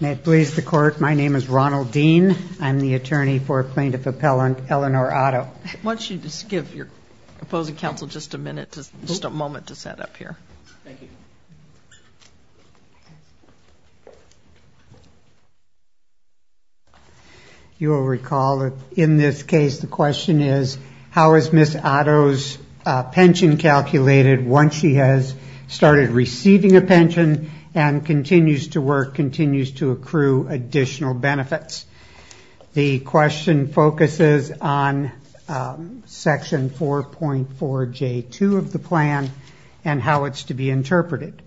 May it please the Court, my name is Ronald Dean. I'm the attorney for plaintiff appellant Elinor Otto. Why don't you just give your opposing counsel just a minute, just a moment to set up here. You will recall that in this case the question is how is Ms. Otto's pension calculated once she has started receiving a pension and continues to work, continues to accrue additional benefits. The question focuses on section 4.4J2 of the plan and how it's to be interpreted.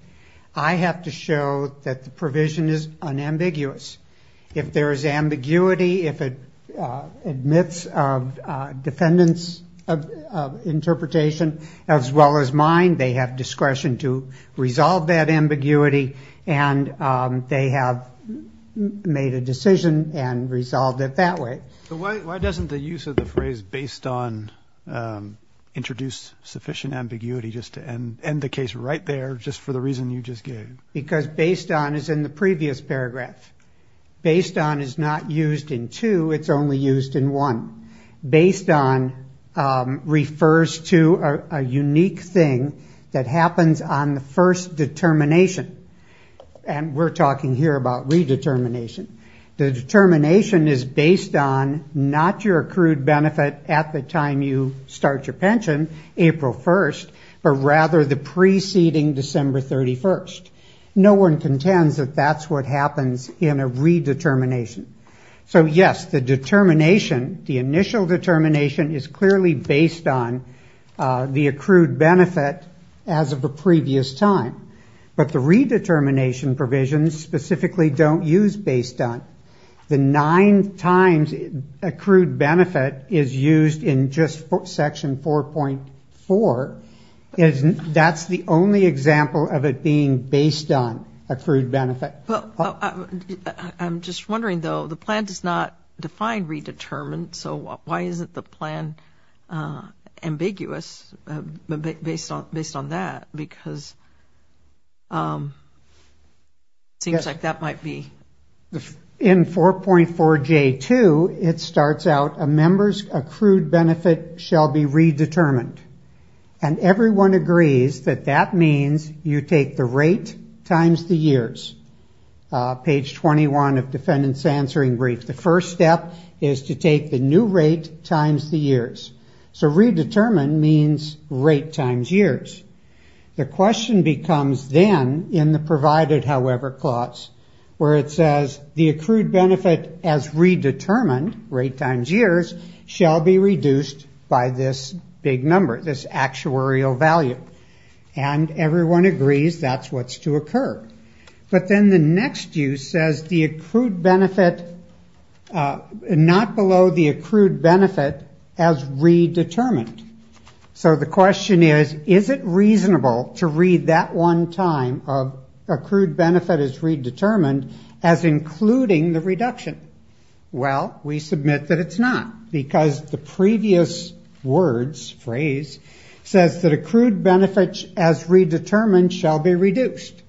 I have to show that the provision is unambiguous. If there is ambiguity, if it admits defendants of interpretation as well as mine, they have discretion to resolve that ambiguity and they have made a decision and resolved it that way. Why doesn't the use of the phrase based on introduce sufficient ambiguity just to end the case right there just for the reason you just gave? Because based on is in the previous paragraph. Based on is not used in two, it's only used in one. Based on refers to a unique thing that happens on the first determination and we're talking here about redetermination. The determination is based on not your accrued benefit at the time you start your pension, April 1st, but rather the preceding December 31st. No one contends that that's what happens in a redetermination. So yes, the determination, the initial determination is clearly based on the accrued benefit as of a previous time. But the redetermination provisions specifically don't use based on. The nine times accrued benefit is used in just section 4.4. That's the only example of it being based on accrued benefit. Well, I'm just wondering, though, the plan does not define redetermined. So why isn't the plan ambiguous based on that? Because it seems like that might be... In 4.4J2, it starts out, a member's accrued benefit shall be redetermined. And everyone agrees that that means you take the rate times the years. Page 21 of defendant's answering brief. The first step is to take the new rate times the years. So redetermined means rate times years. The question becomes then in the provided, however, clause where it says the accrued benefit as redetermined rate times years shall be reduced by this big number, this actuarial value. And everyone agrees that's what's to occur. But then the next use says the accrued benefit, not below the accrued benefit as redetermined. So the question is, is it reasonable to read that one time of accrued benefit as redetermined as including the reduction? Well, we submit that it's not because the previous words phrase says that accrued benefits as redetermined shall be reduced.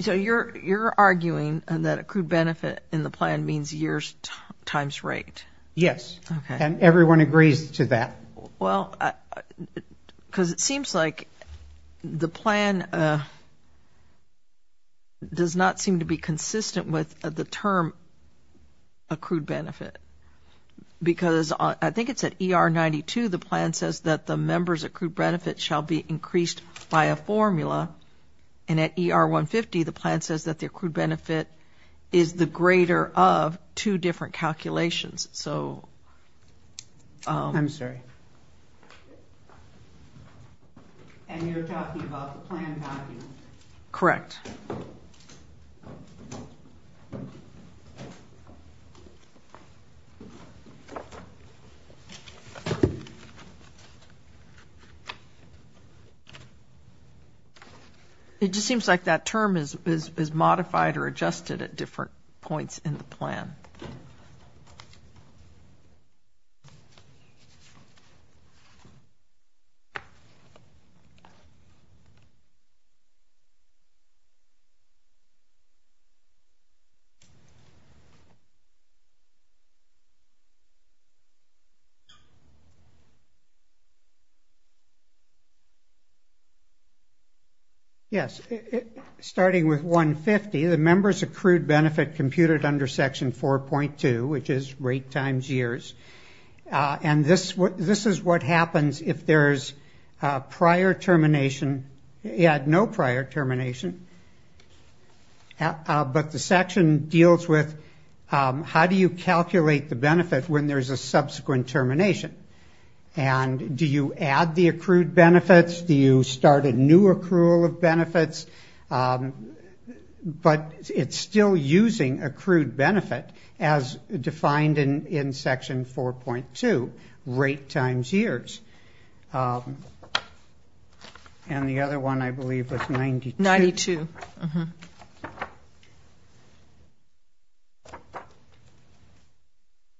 So you're arguing that accrued benefit in the plan means years times rate? Yes. And everyone agrees to that. Well, because it seems like the plan does not seem to be consistent with the term accrued benefit. Because I think it's at ER 92, the plan says that the member's accrued benefit shall be increased by a formula. And at ER 150, the plan says that the accrued benefit shall be reduced by calculations. I'm sorry. And you're talking about the plan value? Correct. It just seems like that term is modified or adjusted at different points in the plan. Yes. Starting with 150, the member's accrued benefit computed under Section 4.2, which this is what happens if there's prior termination, no prior termination, but the section deals with how do you calculate the benefit when there's a subsequent termination? And do you add the accrued benefits? Do you start a new accrual of benefits? But it's still using accrued benefit as defined in Section 4.2, rate times years. And the other one, I believe, was 92. 92.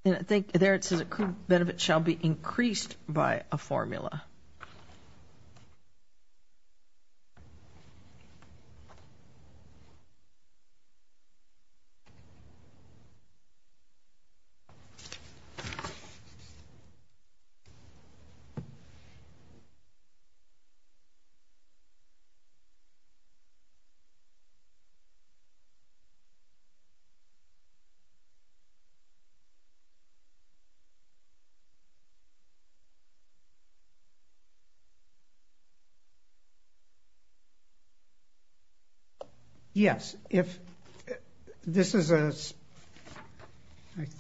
And I think there it says accrued benefit shall be increased by a formula. Yes. I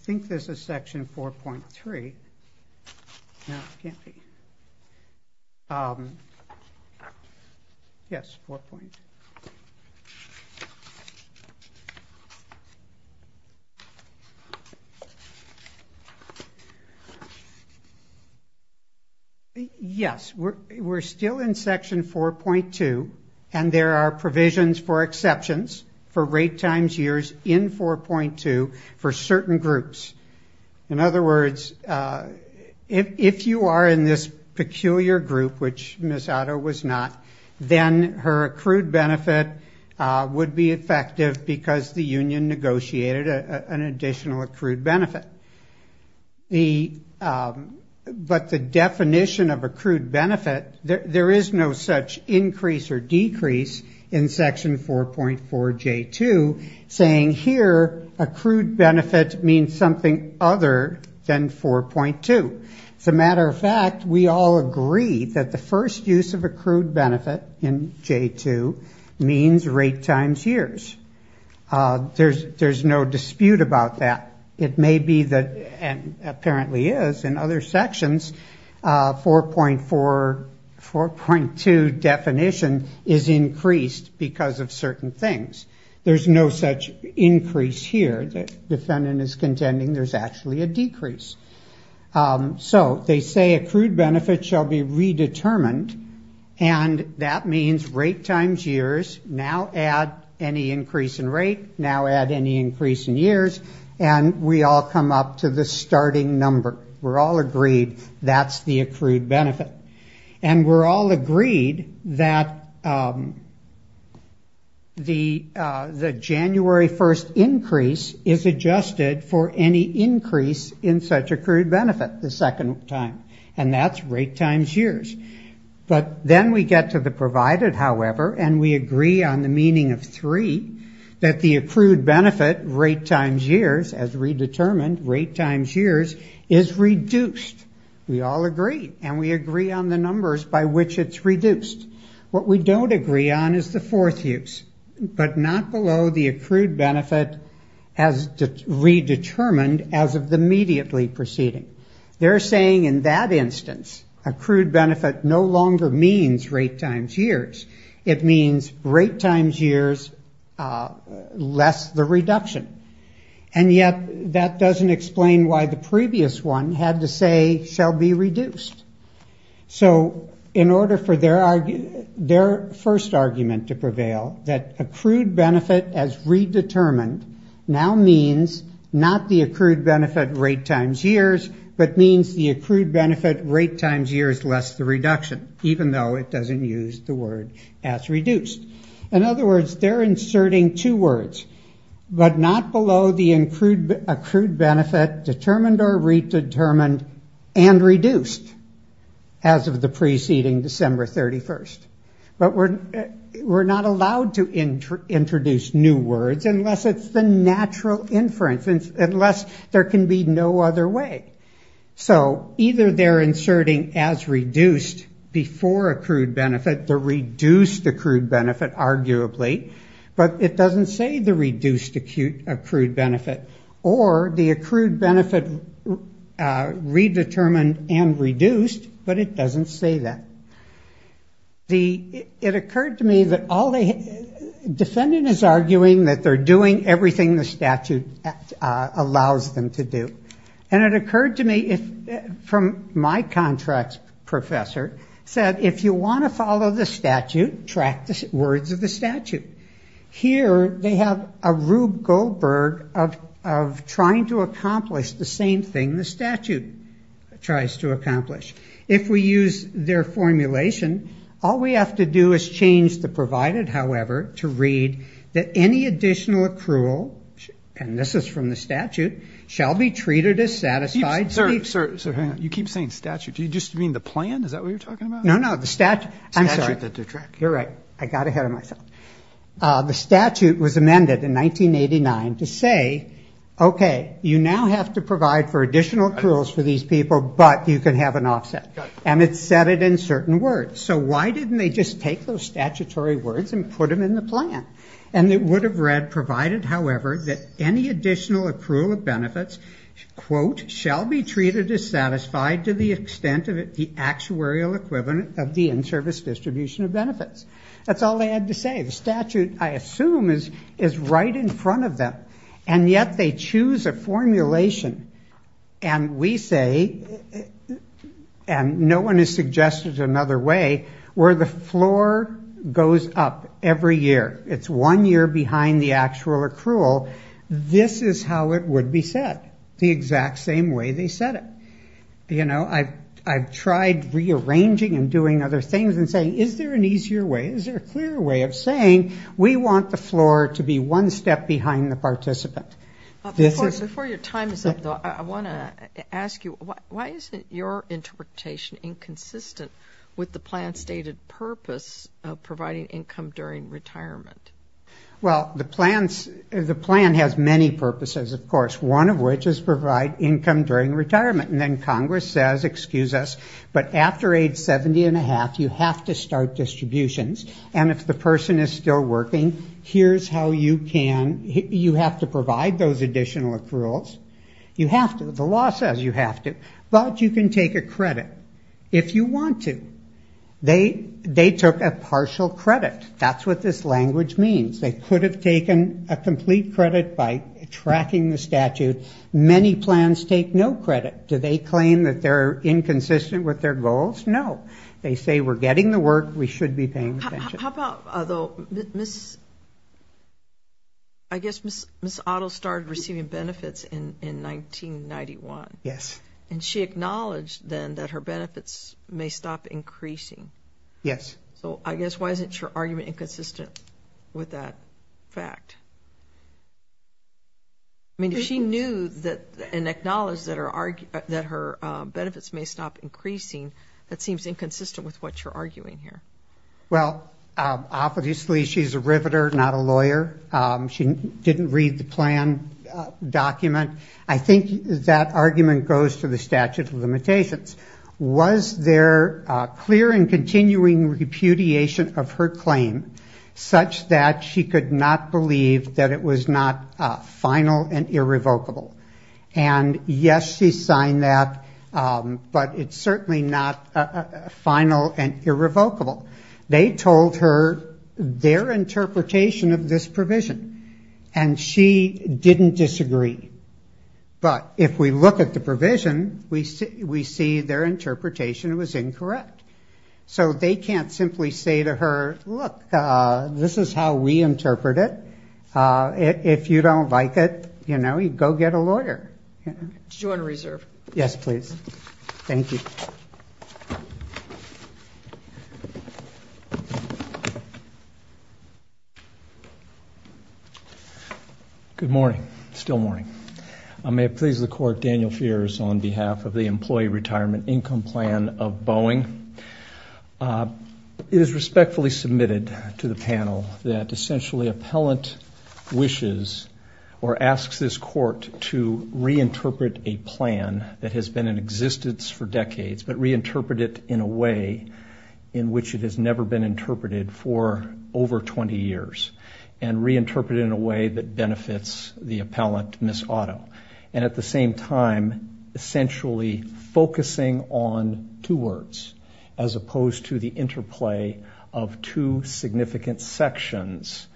think this is Section 4.3. No, it can't be. Yes, 4.2. Yes, we're still in Section 4.2, and there are provisions for exceptions for rate times years in 4.2 for certain groups. In other words, if you are in this peculiar group, which Ms. Otto was not, then her accrued benefit would be effective because the union negotiated an additional accrued benefit. But the definition of accrued benefit, there is no such increase or decrease in Section 4.4J2 saying here accrued benefit means something other than 4.2. As a matter of fact, we all agree that the first use of accrued benefit in J2 means rate times years. There's no dispute about that. It may be that, and apparently is in other sections, 4.4, 4.2 definition is increased because of certain things. There's no such increase here. The defendant is contending there's actually a decrease. So they say accrued benefit shall be redetermined, and that means rate times years now add any increase in rate, now add any increase in years, and we all come up to the starting number. We're all agreed that's the accrued benefit. And we're all agreed that the January 1st increase is adjusted for any increase in such accrued benefit the second time, and that's rate times years. But then we get to the provided, however, and we agree on the meaning of 3, that the accrued benefit rate times years as redetermined rate times years is reduced. We all agree, and we agree on the numbers by which it's reduced. What we don't agree on is the fourth use, but not below the accrued benefit as redetermined as of the immediately preceding. They're saying in that instance accrued benefit no longer means rate times years. It means rate times years less the reduction. And yet that doesn't explain why the previous one had to say shall be reduced. So in order for their first argument to prevail, that accrued benefit as redetermined now means not the accrued benefit rate times years, but means the accrued benefit rate times years less the reduction, even though it doesn't use the word as reduced. In other words, they're inserting two words, but not below the accrued benefit determined or redetermined and reduced as of the preceding December 31st. But we're not allowed to introduce new words unless it's the natural inference, unless there can be no other way. So either they're inserting as reduced before accrued benefit, the reduced accrued benefit arguably, but it doesn't say the reduced accrued benefit. Or the accrued benefit redetermined and reduced, but it doesn't say that. It occurred to me that defendant is arguing that they're doing everything the statute allows them to do. And it occurred to me from my contracts professor said if you want to follow the statute, track the words of the statute. Here they have a Rube Goldberg of trying to accomplish the same thing the statute tries to accomplish. If we use their formulation, all we have to do is change the provided, however, to read that any additional accrual, and this is from the statute, shall be treated as satisfied. You keep saying statute. Do you just mean the plan? Is that what you're talking about? No, no, the statute. I'm sorry. You're right. I got ahead of myself. The statute was amended in 1989 to say, okay, you now have to provide for additional accruals for these people, but you can have an offset. And it said it in certain words. So why didn't they just take those statutory words and put them in the plan? And it would have read provided, however, that any additional accrual of benefits, quote, shall be treated as satisfied to the extent of the actuarial equivalent of the in-service distribution of And we say, and no one has suggested another way, where the floor goes up every year. It's one year behind the actual accrual. This is how it would be set, the exact same way they set it. You know, I've tried rearranging and doing other things and saying, is there an easier way? Is there a clearer way of saying, we want the floor to be one step behind the participant? Before your time is up, though, I want to ask you, why isn't your interpretation inconsistent with the plan's stated purpose of providing income during retirement? Well, the plan has many purposes, of course, one of which is provide income during retirement. And then Congress says, excuse us, but after age 70 and a half, we're going to have to start distributions. And if the person is still working, here's how you can, you have to provide those additional accruals. You have to. The law says you have to. But you can take a credit, if you want to. They took a partial credit. That's what this language means. They could have taken a complete credit by tracking the statute. Many plans take no credit. Do they claim that they're inconsistent with their goals? No. They say, we're getting the work, we should be paying attention. I guess Ms. Otto started receiving benefits in 1991. Yes. And she acknowledged then that her benefits may stop increasing. Yes. So I guess, why isn't your argument inconsistent with that fact? I mean, if she knew and acknowledged that her benefits may stop increasing, that seems inconsistent with what you're arguing here. Well, obviously, she's a riveter, not a lawyer. She didn't read the plan document. I think that argument goes to the statute of limitations. Was there clear and continuing repudiation of her claim, such that she could not believe that her benefits may stop increasing? No. She could not believe that it was not final and irrevocable. And, yes, she signed that, but it's certainly not final and irrevocable. They told her their interpretation of this provision. And she didn't disagree. But if we look at the provision, we see their interpretation was incorrect. So they can't simply say to her, look, this is how we interpret it. We're not going to change it. We're not going to change it. If you don't like it, you know, you go get a lawyer. Good morning. Still morning. May it please the Court, Daniel Fiers on behalf of the Employee Retirement Income Plan of Boeing. It is respectfully submitted to the panel that, essentially, appellant wishes or asks this Court to reinterpret a plan that has been in existence for decades, but reinterpret it in a way in which it has never been interpreted for over 20 years, and reinterpret it in a way that benefits the appellant, Ms. Otto. And at the same time, essentially focusing on two words, as opposed to the interplay of two words. And I'm going to ask Ms. Otto to explain the two significant sections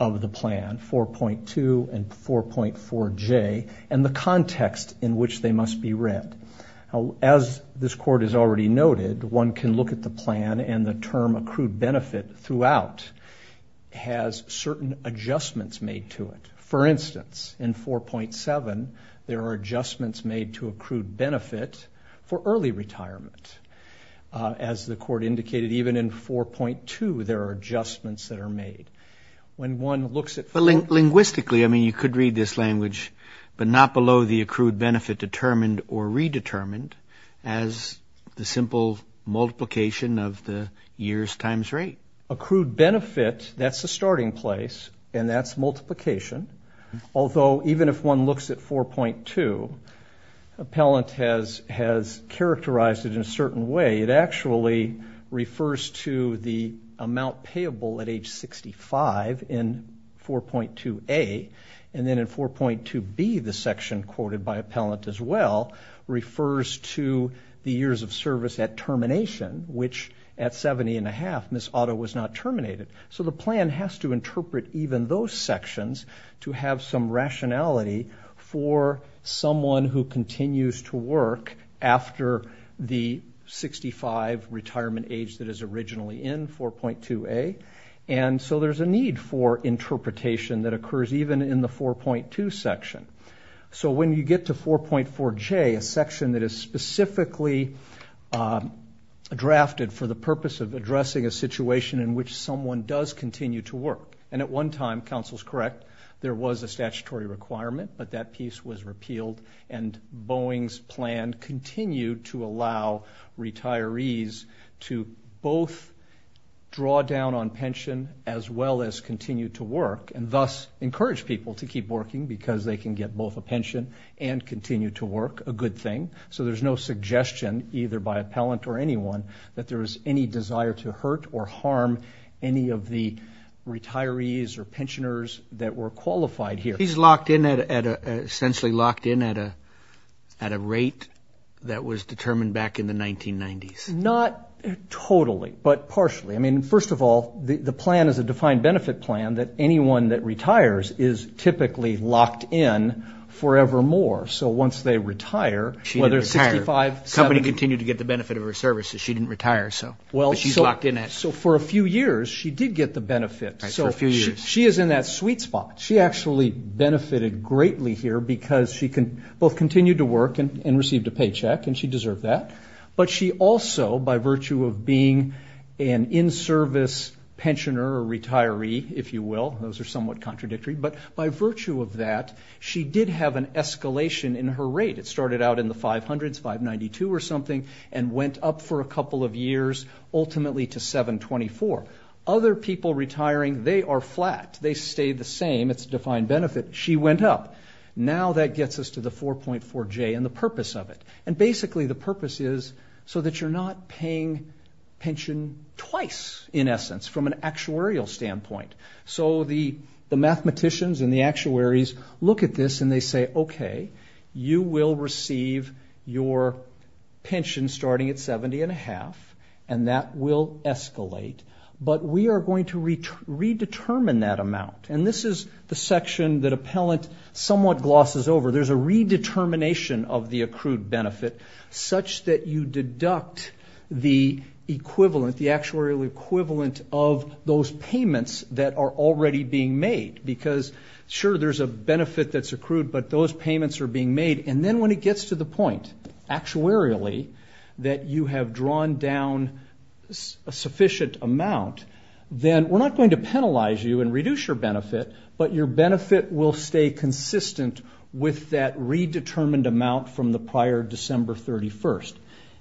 of the plan, 4.2 and 4.4J, and the context in which they must be read. As this Court has already noted, one can look at the plan, and the term accrued benefit throughout has certain adjustments made to it. For instance, in 4.7, there are adjustments made to accrued benefit for 4.4, and in 4.4J, there are adjustments that are made. When one looks at... But linguistically, I mean, you could read this language, but not below the accrued benefit determined or redetermined, as the simple multiplication of the years times rate. Accrued benefit, that's the starting place, and that's multiplication. Although, even if one looks at 4.2, appellant has characterized it in a manner that is not payable at age 65 in 4.2A, and then in 4.2B, the section quoted by appellant as well, refers to the years of service at termination, which at 70 and a half, Ms. Otto was not terminated. So the plan has to interpret even those sections to have some rationality for someone who continues to work after the 65 retirement age that is originally in, 4.2A, and 4.4J, and 4.4J, and 4.4J, and 4.4J, and 4.4J. And so there's a need for interpretation that occurs even in the 4.2 section. So when you get to 4.4J, a section that is specifically drafted for the purpose of addressing a situation in which someone does continue to work, and at one time, counsel's correct, there was a statutory requirement, but that piece was repealed, and Boeing's plan continued to allow retirees to both draw down their retirement age and pension, as well as continue to work, and thus encourage people to keep working, because they can get both a pension and continue to work, a good thing. So there's no suggestion, either by appellant or anyone, that there is any desire to hurt or harm any of the retirees or pensioners that were qualified here. He's locked in at a, essentially locked in at a rate that was determined back in the 1990s. Not totally, but partially. I mean, first of all, the plan is a defined benefit plan that anyone that retires is typically locked in forevermore. So once they retire, whether it's 65, 70... She didn't retire. The company continued to get the benefit of her services. She didn't retire, but she's locked in at... Well, so for a few years, she did get the benefit. Right, for a few years. So she is in that sweet spot. She actually benefited greatly here, because she both continued to work and received a paycheck, and she also, by virtue of being an in-service pensioner or retiree, if you will, those are somewhat contradictory, but by virtue of that, she did have an escalation in her rate. It started out in the 500s, 592 or something, and went up for a couple of years, ultimately to 724. Other people retiring, they are flat. They stay the same. It's a defined benefit. She went up. Now that gets us to the 4.4J and the purpose of it. And basically, the purpose is so that you're not in a position to pay a pension twice, in essence, from an actuarial standpoint. So the mathematicians and the actuaries look at this and they say, okay, you will receive your pension starting at 70 and a half, and that will escalate, but we are going to redetermine that amount. And this is the section that Appellant somewhat glosses over. There's a redetermination of the accrued benefit, such that you deduct the equivalent, the actuarial equivalent of those payments that are already being made. Because, sure, there's a benefit that's accrued, but those payments are being made. And then when it gets to the point, actuarially, that you have drawn down a sufficient amount, then we're not going to penalize you and reduce your benefit, but your benefit will stay consistent with that redetermined amount from the prior December 31st.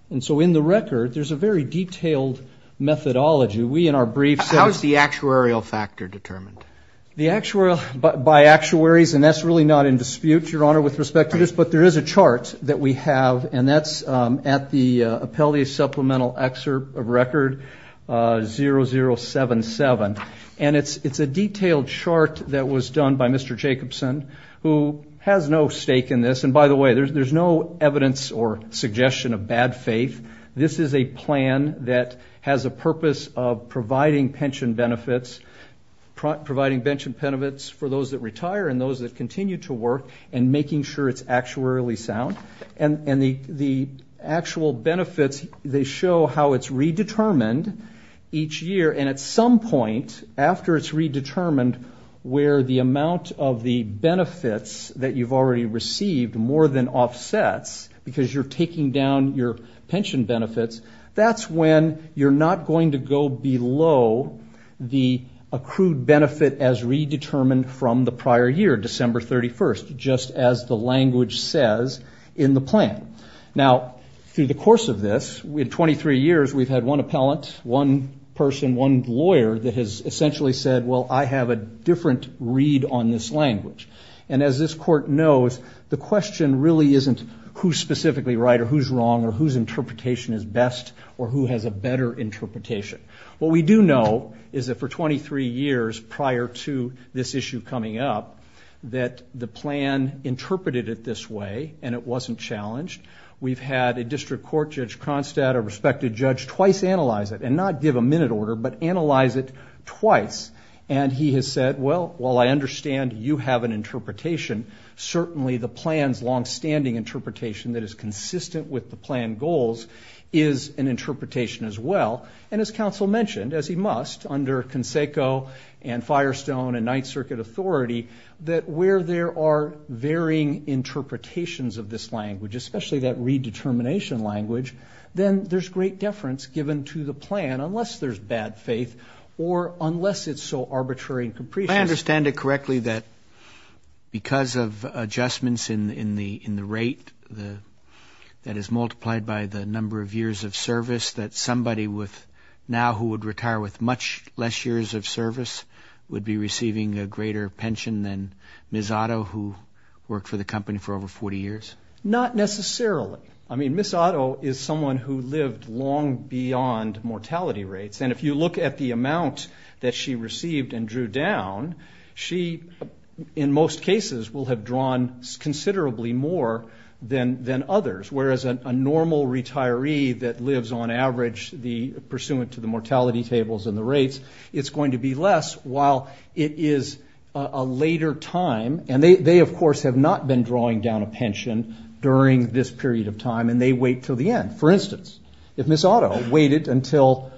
And so in the record, there's a very detailed methodology. We, in our briefs... How is the actuarial factor determined? By actuaries, and that's really not in dispute, Your Honor, with respect to this, but there is a chart that we have, and that's at the Appellate Supplemental Excerpt of Record 0077. And it's a detailed chart that was done by Mr. Jacobson, who has no stake in this. And by the way, there's no evidence or suggestion of bad faith. This is a plan that has a purpose of providing pension benefits, providing pension benefits for those that retire and those that continue to work, and making sure it's actuarially sound. And the actual benefits, they show how it's redetermined each year, and at some point after it's redetermined, where the amount of the benefits that you've already received more than offsets, because you're taking down your pension benefits, that's when you're not going to go below the accrued benefit as redetermined from the prior year, December 31st, just as the language says in the plan. Now, through the course of this, in 23 years, we've had one appellant, one person, one lawyer that has essentially said, well, I have a different read on this issue. The question really isn't who's specifically right or who's wrong, or whose interpretation is best, or who has a better interpretation. What we do know is that for 23 years prior to this issue coming up, that the plan interpreted it this way, and it wasn't challenged. We've had a district court judge, Kronstadt, a respected judge, twice analyze it, and not give a minute order, but analyze it twice. And he has said, well, while I understand you have an interpretation, certainly the plan is wrong. And he has said, well, I believe that the plan's longstanding interpretation that is consistent with the plan goals is an interpretation as well. And as counsel mentioned, as he must, under Conseco and Firestone and Ninth Circuit authority, that where there are varying interpretations of this language, especially that redetermination language, then there's great deference given to the plan, unless there's bad faith, or unless it's so arbitrary and capricious. I understand it correctly that because of adjustments in the rate that is multiplied by the number of years of service, that somebody now who would retire with much less years of service would be receiving a greater pension than Ms. Otto, who worked for the company for over 40 years? Not necessarily. I mean, Ms. Otto is someone who lived long beyond mortality rates. And if you look at the amount that she received and drew down, she in most cases will have drawn considerably more than others, whereas a normal retiree that lives on average pursuant to the mortality tables and the rates, it's going to be less while it is a later time. And they, of course, have not been drawing down a pension during this period of time, and they wait until the end. For instance, if Ms. Otto waited until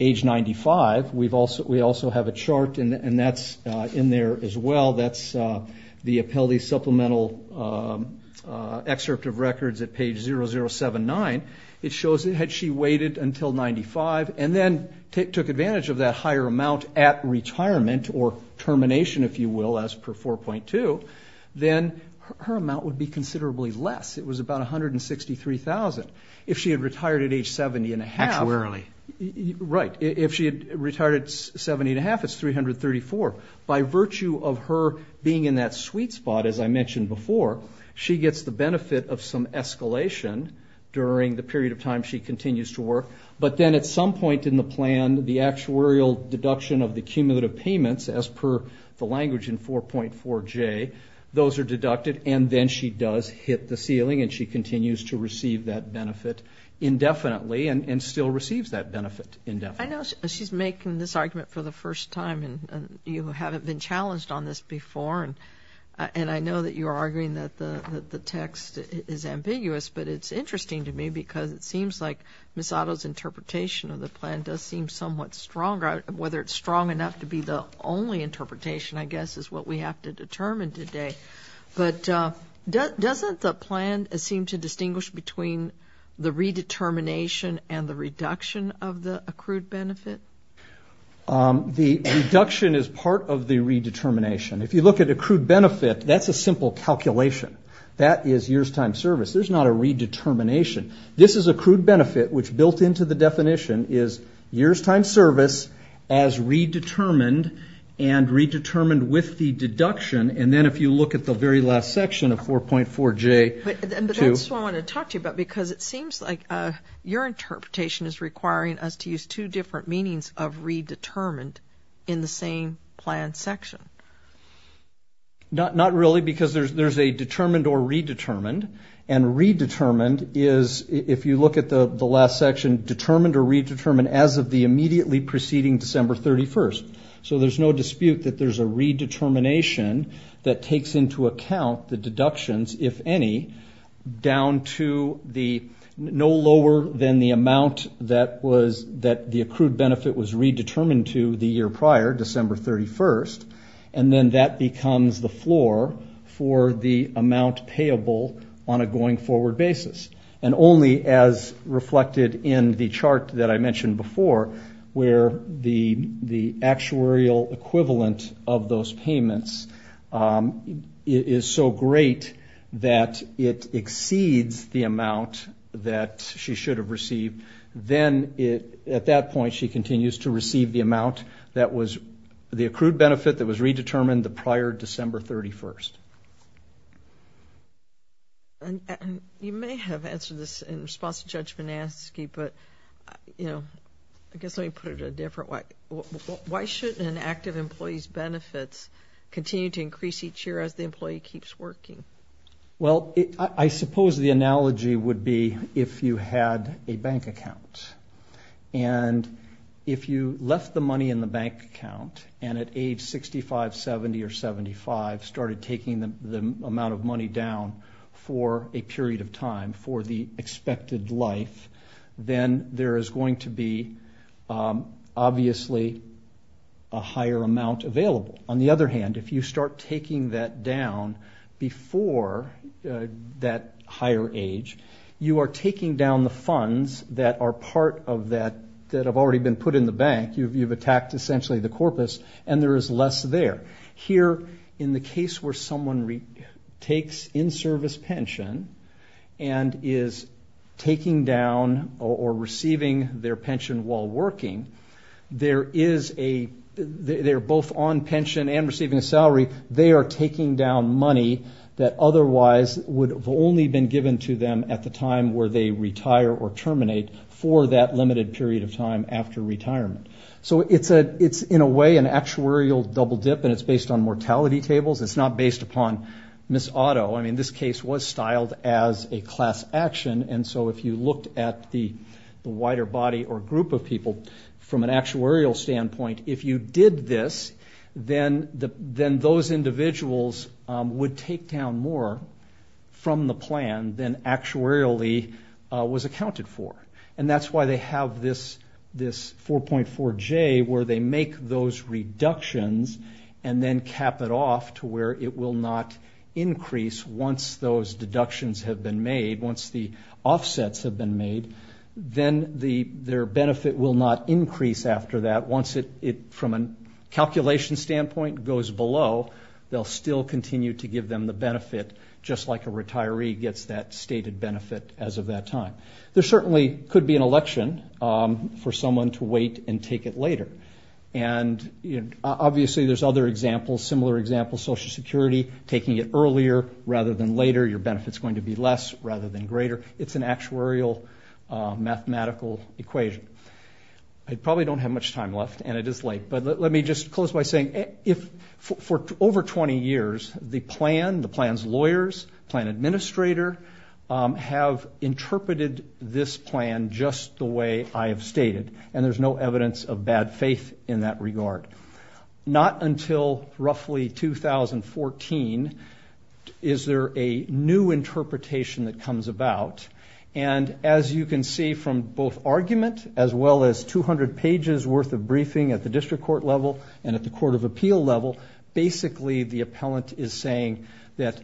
age 95, we also have a chart, and that's in there as well, that's the Appellee's Supplemental Excerpt of Records at page 0079. It shows that had she waited until 95, and then took advantage of that higher amount at retirement, or termination, if you will, as per 4.2, then her amount would be considerably less. It was about $163,000. If she had retired at age 70 and a half... Right. If she had retired at 70 and a half, it's $334,000. By virtue of her being in that sweet spot, as I mentioned before, she gets the benefit of some escalation during the period of time she continues to work. But then at some point in the plan, the actuarial deduction of the cumulative payments, as per the language in 4.4J, those are deducted, and then she does hit the ceiling, and she gets the benefit of some escalation during the period of time she continues to work. I know she's making this argument for the first time, and you haven't been challenged on this before, and I know that you are arguing that the text is ambiguous, but it's interesting to me because it seems like Ms. Otto's interpretation of the plan does seem somewhat stronger, whether it's strong enough to be the only interpretation, I guess, is what we have to determine today. But doesn't the plan seem to distinguish between the redetermination and the reduction of the accrued benefit? The reduction is part of the redetermination. If you look at accrued benefit, that's a simple calculation. That is years' time service. There's not a redetermination. This is accrued benefit, which built into the definition is years' time service as well. If you look at the very last section of 4.4J... But that's what I want to talk to you about, because it seems like your interpretation is requiring us to use two different meanings of redetermined in the same plan section. Not really, because there's a determined or redetermined, and redetermined is, if you look at the last section, determined or redetermined as of the immediately preceding December 31st. So there's no dispute that there's a redetermination that takes into account the deductions, if any, down to no lower than the amount that the accrued benefit was redetermined to the year prior, December 31st, and then that becomes the floor for the amount payable on a going-forward basis. And only as reflected in the chart that I mentioned before, where the actuarial equivalent of those payments is determined on a going-forward basis. If the amount is so great that it exceeds the amount that she should have received, then at that point she continues to receive the amount that was the accrued benefit that was redetermined the prior December 31st. You may have answered this in response to Judge Manaski, but, you know, I guess let me put it a different way. Why should an employee keep receiving the money each year as the employee keeps working? Well, I suppose the analogy would be if you had a bank account, and if you left the money in the bank account and at age 65, 70, or 75 started taking the amount of money down for a period of time for the expected life, then there is going to be, obviously, a higher amount available. On the other hand, if you start taking that down before that higher age, you are taking down the funds that are part of that, that have already been put in the bank. You've attacked, essentially, the corpus, and there is less there. Here, in the case where someone takes in-service pension and is taking down or receiving their pension while working, there is a, they're both on and off the job, both on pension and receiving a salary, they are taking down money that otherwise would have only been given to them at the time where they retire or terminate for that limited period of time after retirement. So it's in a way an actuarial double dip, and it's based on mortality tables. It's not based upon Miss Otto. I mean, this case was styled as a class action, and so if you looked at the wider body or group of people, from an actuarial standpoint, if you did this, then those individuals would take down more from the plan than actuarially was accounted for. And that's why they have this 4.4J, where they make those reductions and then cap it off to where it will not increase once those deductions have been made, once the offsets have been made, then there is a reduction in the amount of money that they're going to receive. So their benefit will not increase after that. Once it, from a calculation standpoint, goes below, they'll still continue to give them the benefit, just like a retiree gets that stated benefit as of that time. There certainly could be an election for someone to wait and take it later. And, you know, obviously there's other examples, similar examples, Social Security, taking it earlier rather than later, your benefit is going to be less rather than greater. It's an actuarial mathematical equation. I probably don't have much time left, and it is late, but let me just close by saying, for over 20 years, the plan, the plan's lawyers, plan administrator, have interpreted this plan just the way I have stated, and there's no evidence of bad faith in that regard. Not until roughly 2014 is there a new interpretation that comes about. And as you can see from both argument, as well as from the report, as well as 200 pages worth of briefing at the district court level and at the court of appeal level, basically the appellant is saying that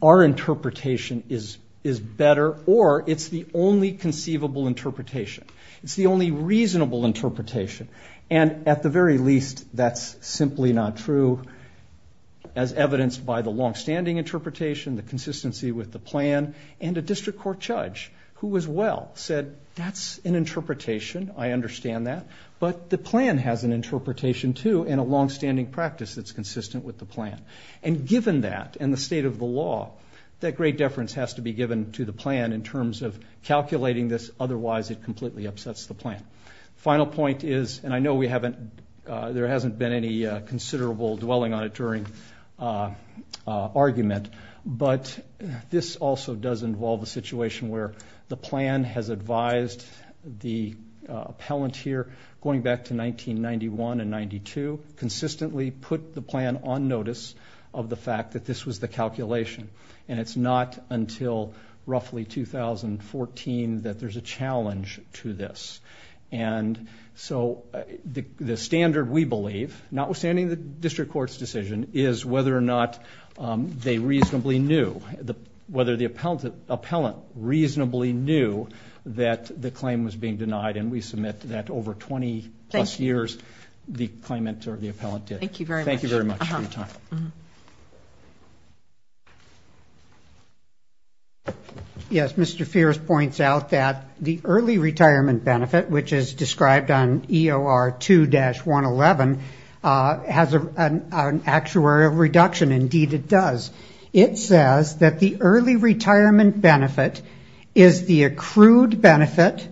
our interpretation is better, or it's the only conceivable interpretation. It's the only reasonable interpretation. And at the very least, that's simply not true, as evidenced by the longstanding interpretation, the consistency with the plan, and a district court judge who as well said, that's an interpretation, I understand that, but the plan has an interpretation too, and a longstanding practice that's consistent with the plan. And given that, and the state of the law, that great deference has to be given to the plan in terms of calculating this, otherwise it completely upsets the plan. The final point is, and I know we haven't, there hasn't been any considerable dwelling on it during argument, but this is a very important point, and this also does involve a situation where the plan has advised the appellant here, going back to 1991 and 92, consistently put the plan on notice of the fact that this was the calculation. And it's not until roughly 2014 that there's a challenge to this. And so the standard, we believe, notwithstanding the district court's decision, is whether or not they reasonably knew, whether the appellant reasonably knew that the claim was being denied, and we submit that over 20 plus years, the claimant or the appellant did. Thank you very much. Thank you very much for your time. Yes, Mr. Fierce points out that the early retirement benefit, which is described on EOR 2-111, has an actuarial reduction. Indeed it does. It says that the early retirement benefit is the accrued benefit,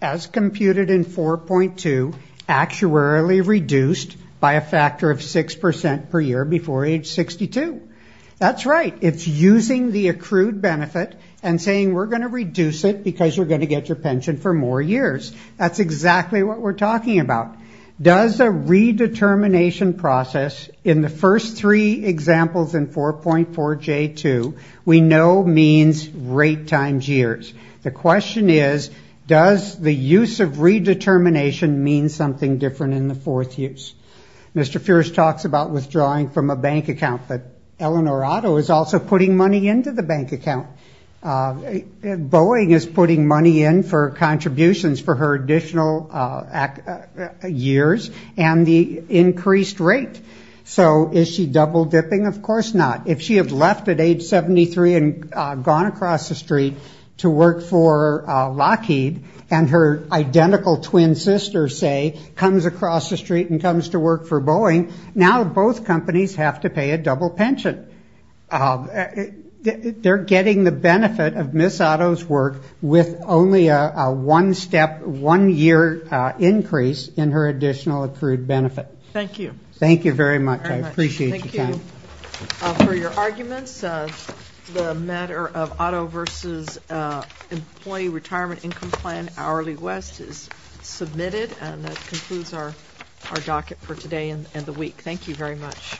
as computed in 4.2, actuarially reduced by a factor of 6% per year before age 62. That's right. It's using the accrued benefit and saying we're going to reduce it because you're going to get your pension for more years. That's exactly what we're talking about. Does a redetermination process in the first three examples in 4.4J2, we know means rate times years. The question is, does the use of redetermination mean something different in the fourth use? Mr. Fierce talks about withdrawing from a bank account, but Eleanor Otto is also putting money into the bank account. Boeing is putting money in for contributions for her additional years and the increased rate. So is she double dipping? Of course not. If she had left at age 73 and gone across the street to work for Lockheed and her identical twin sister, say, comes across the street and comes to work for Boeing, now both companies have to pay a double pension. They're getting the benefit of Ms. Otto's work with only a one-step, one-year increase in her additional accrued benefit. Thank you very much. I appreciate your time. For your arguments, the matter of Otto v. Employee Retirement Income Plan Hourly West is submitted, and that concludes our docket for today and the week. Thank you very much.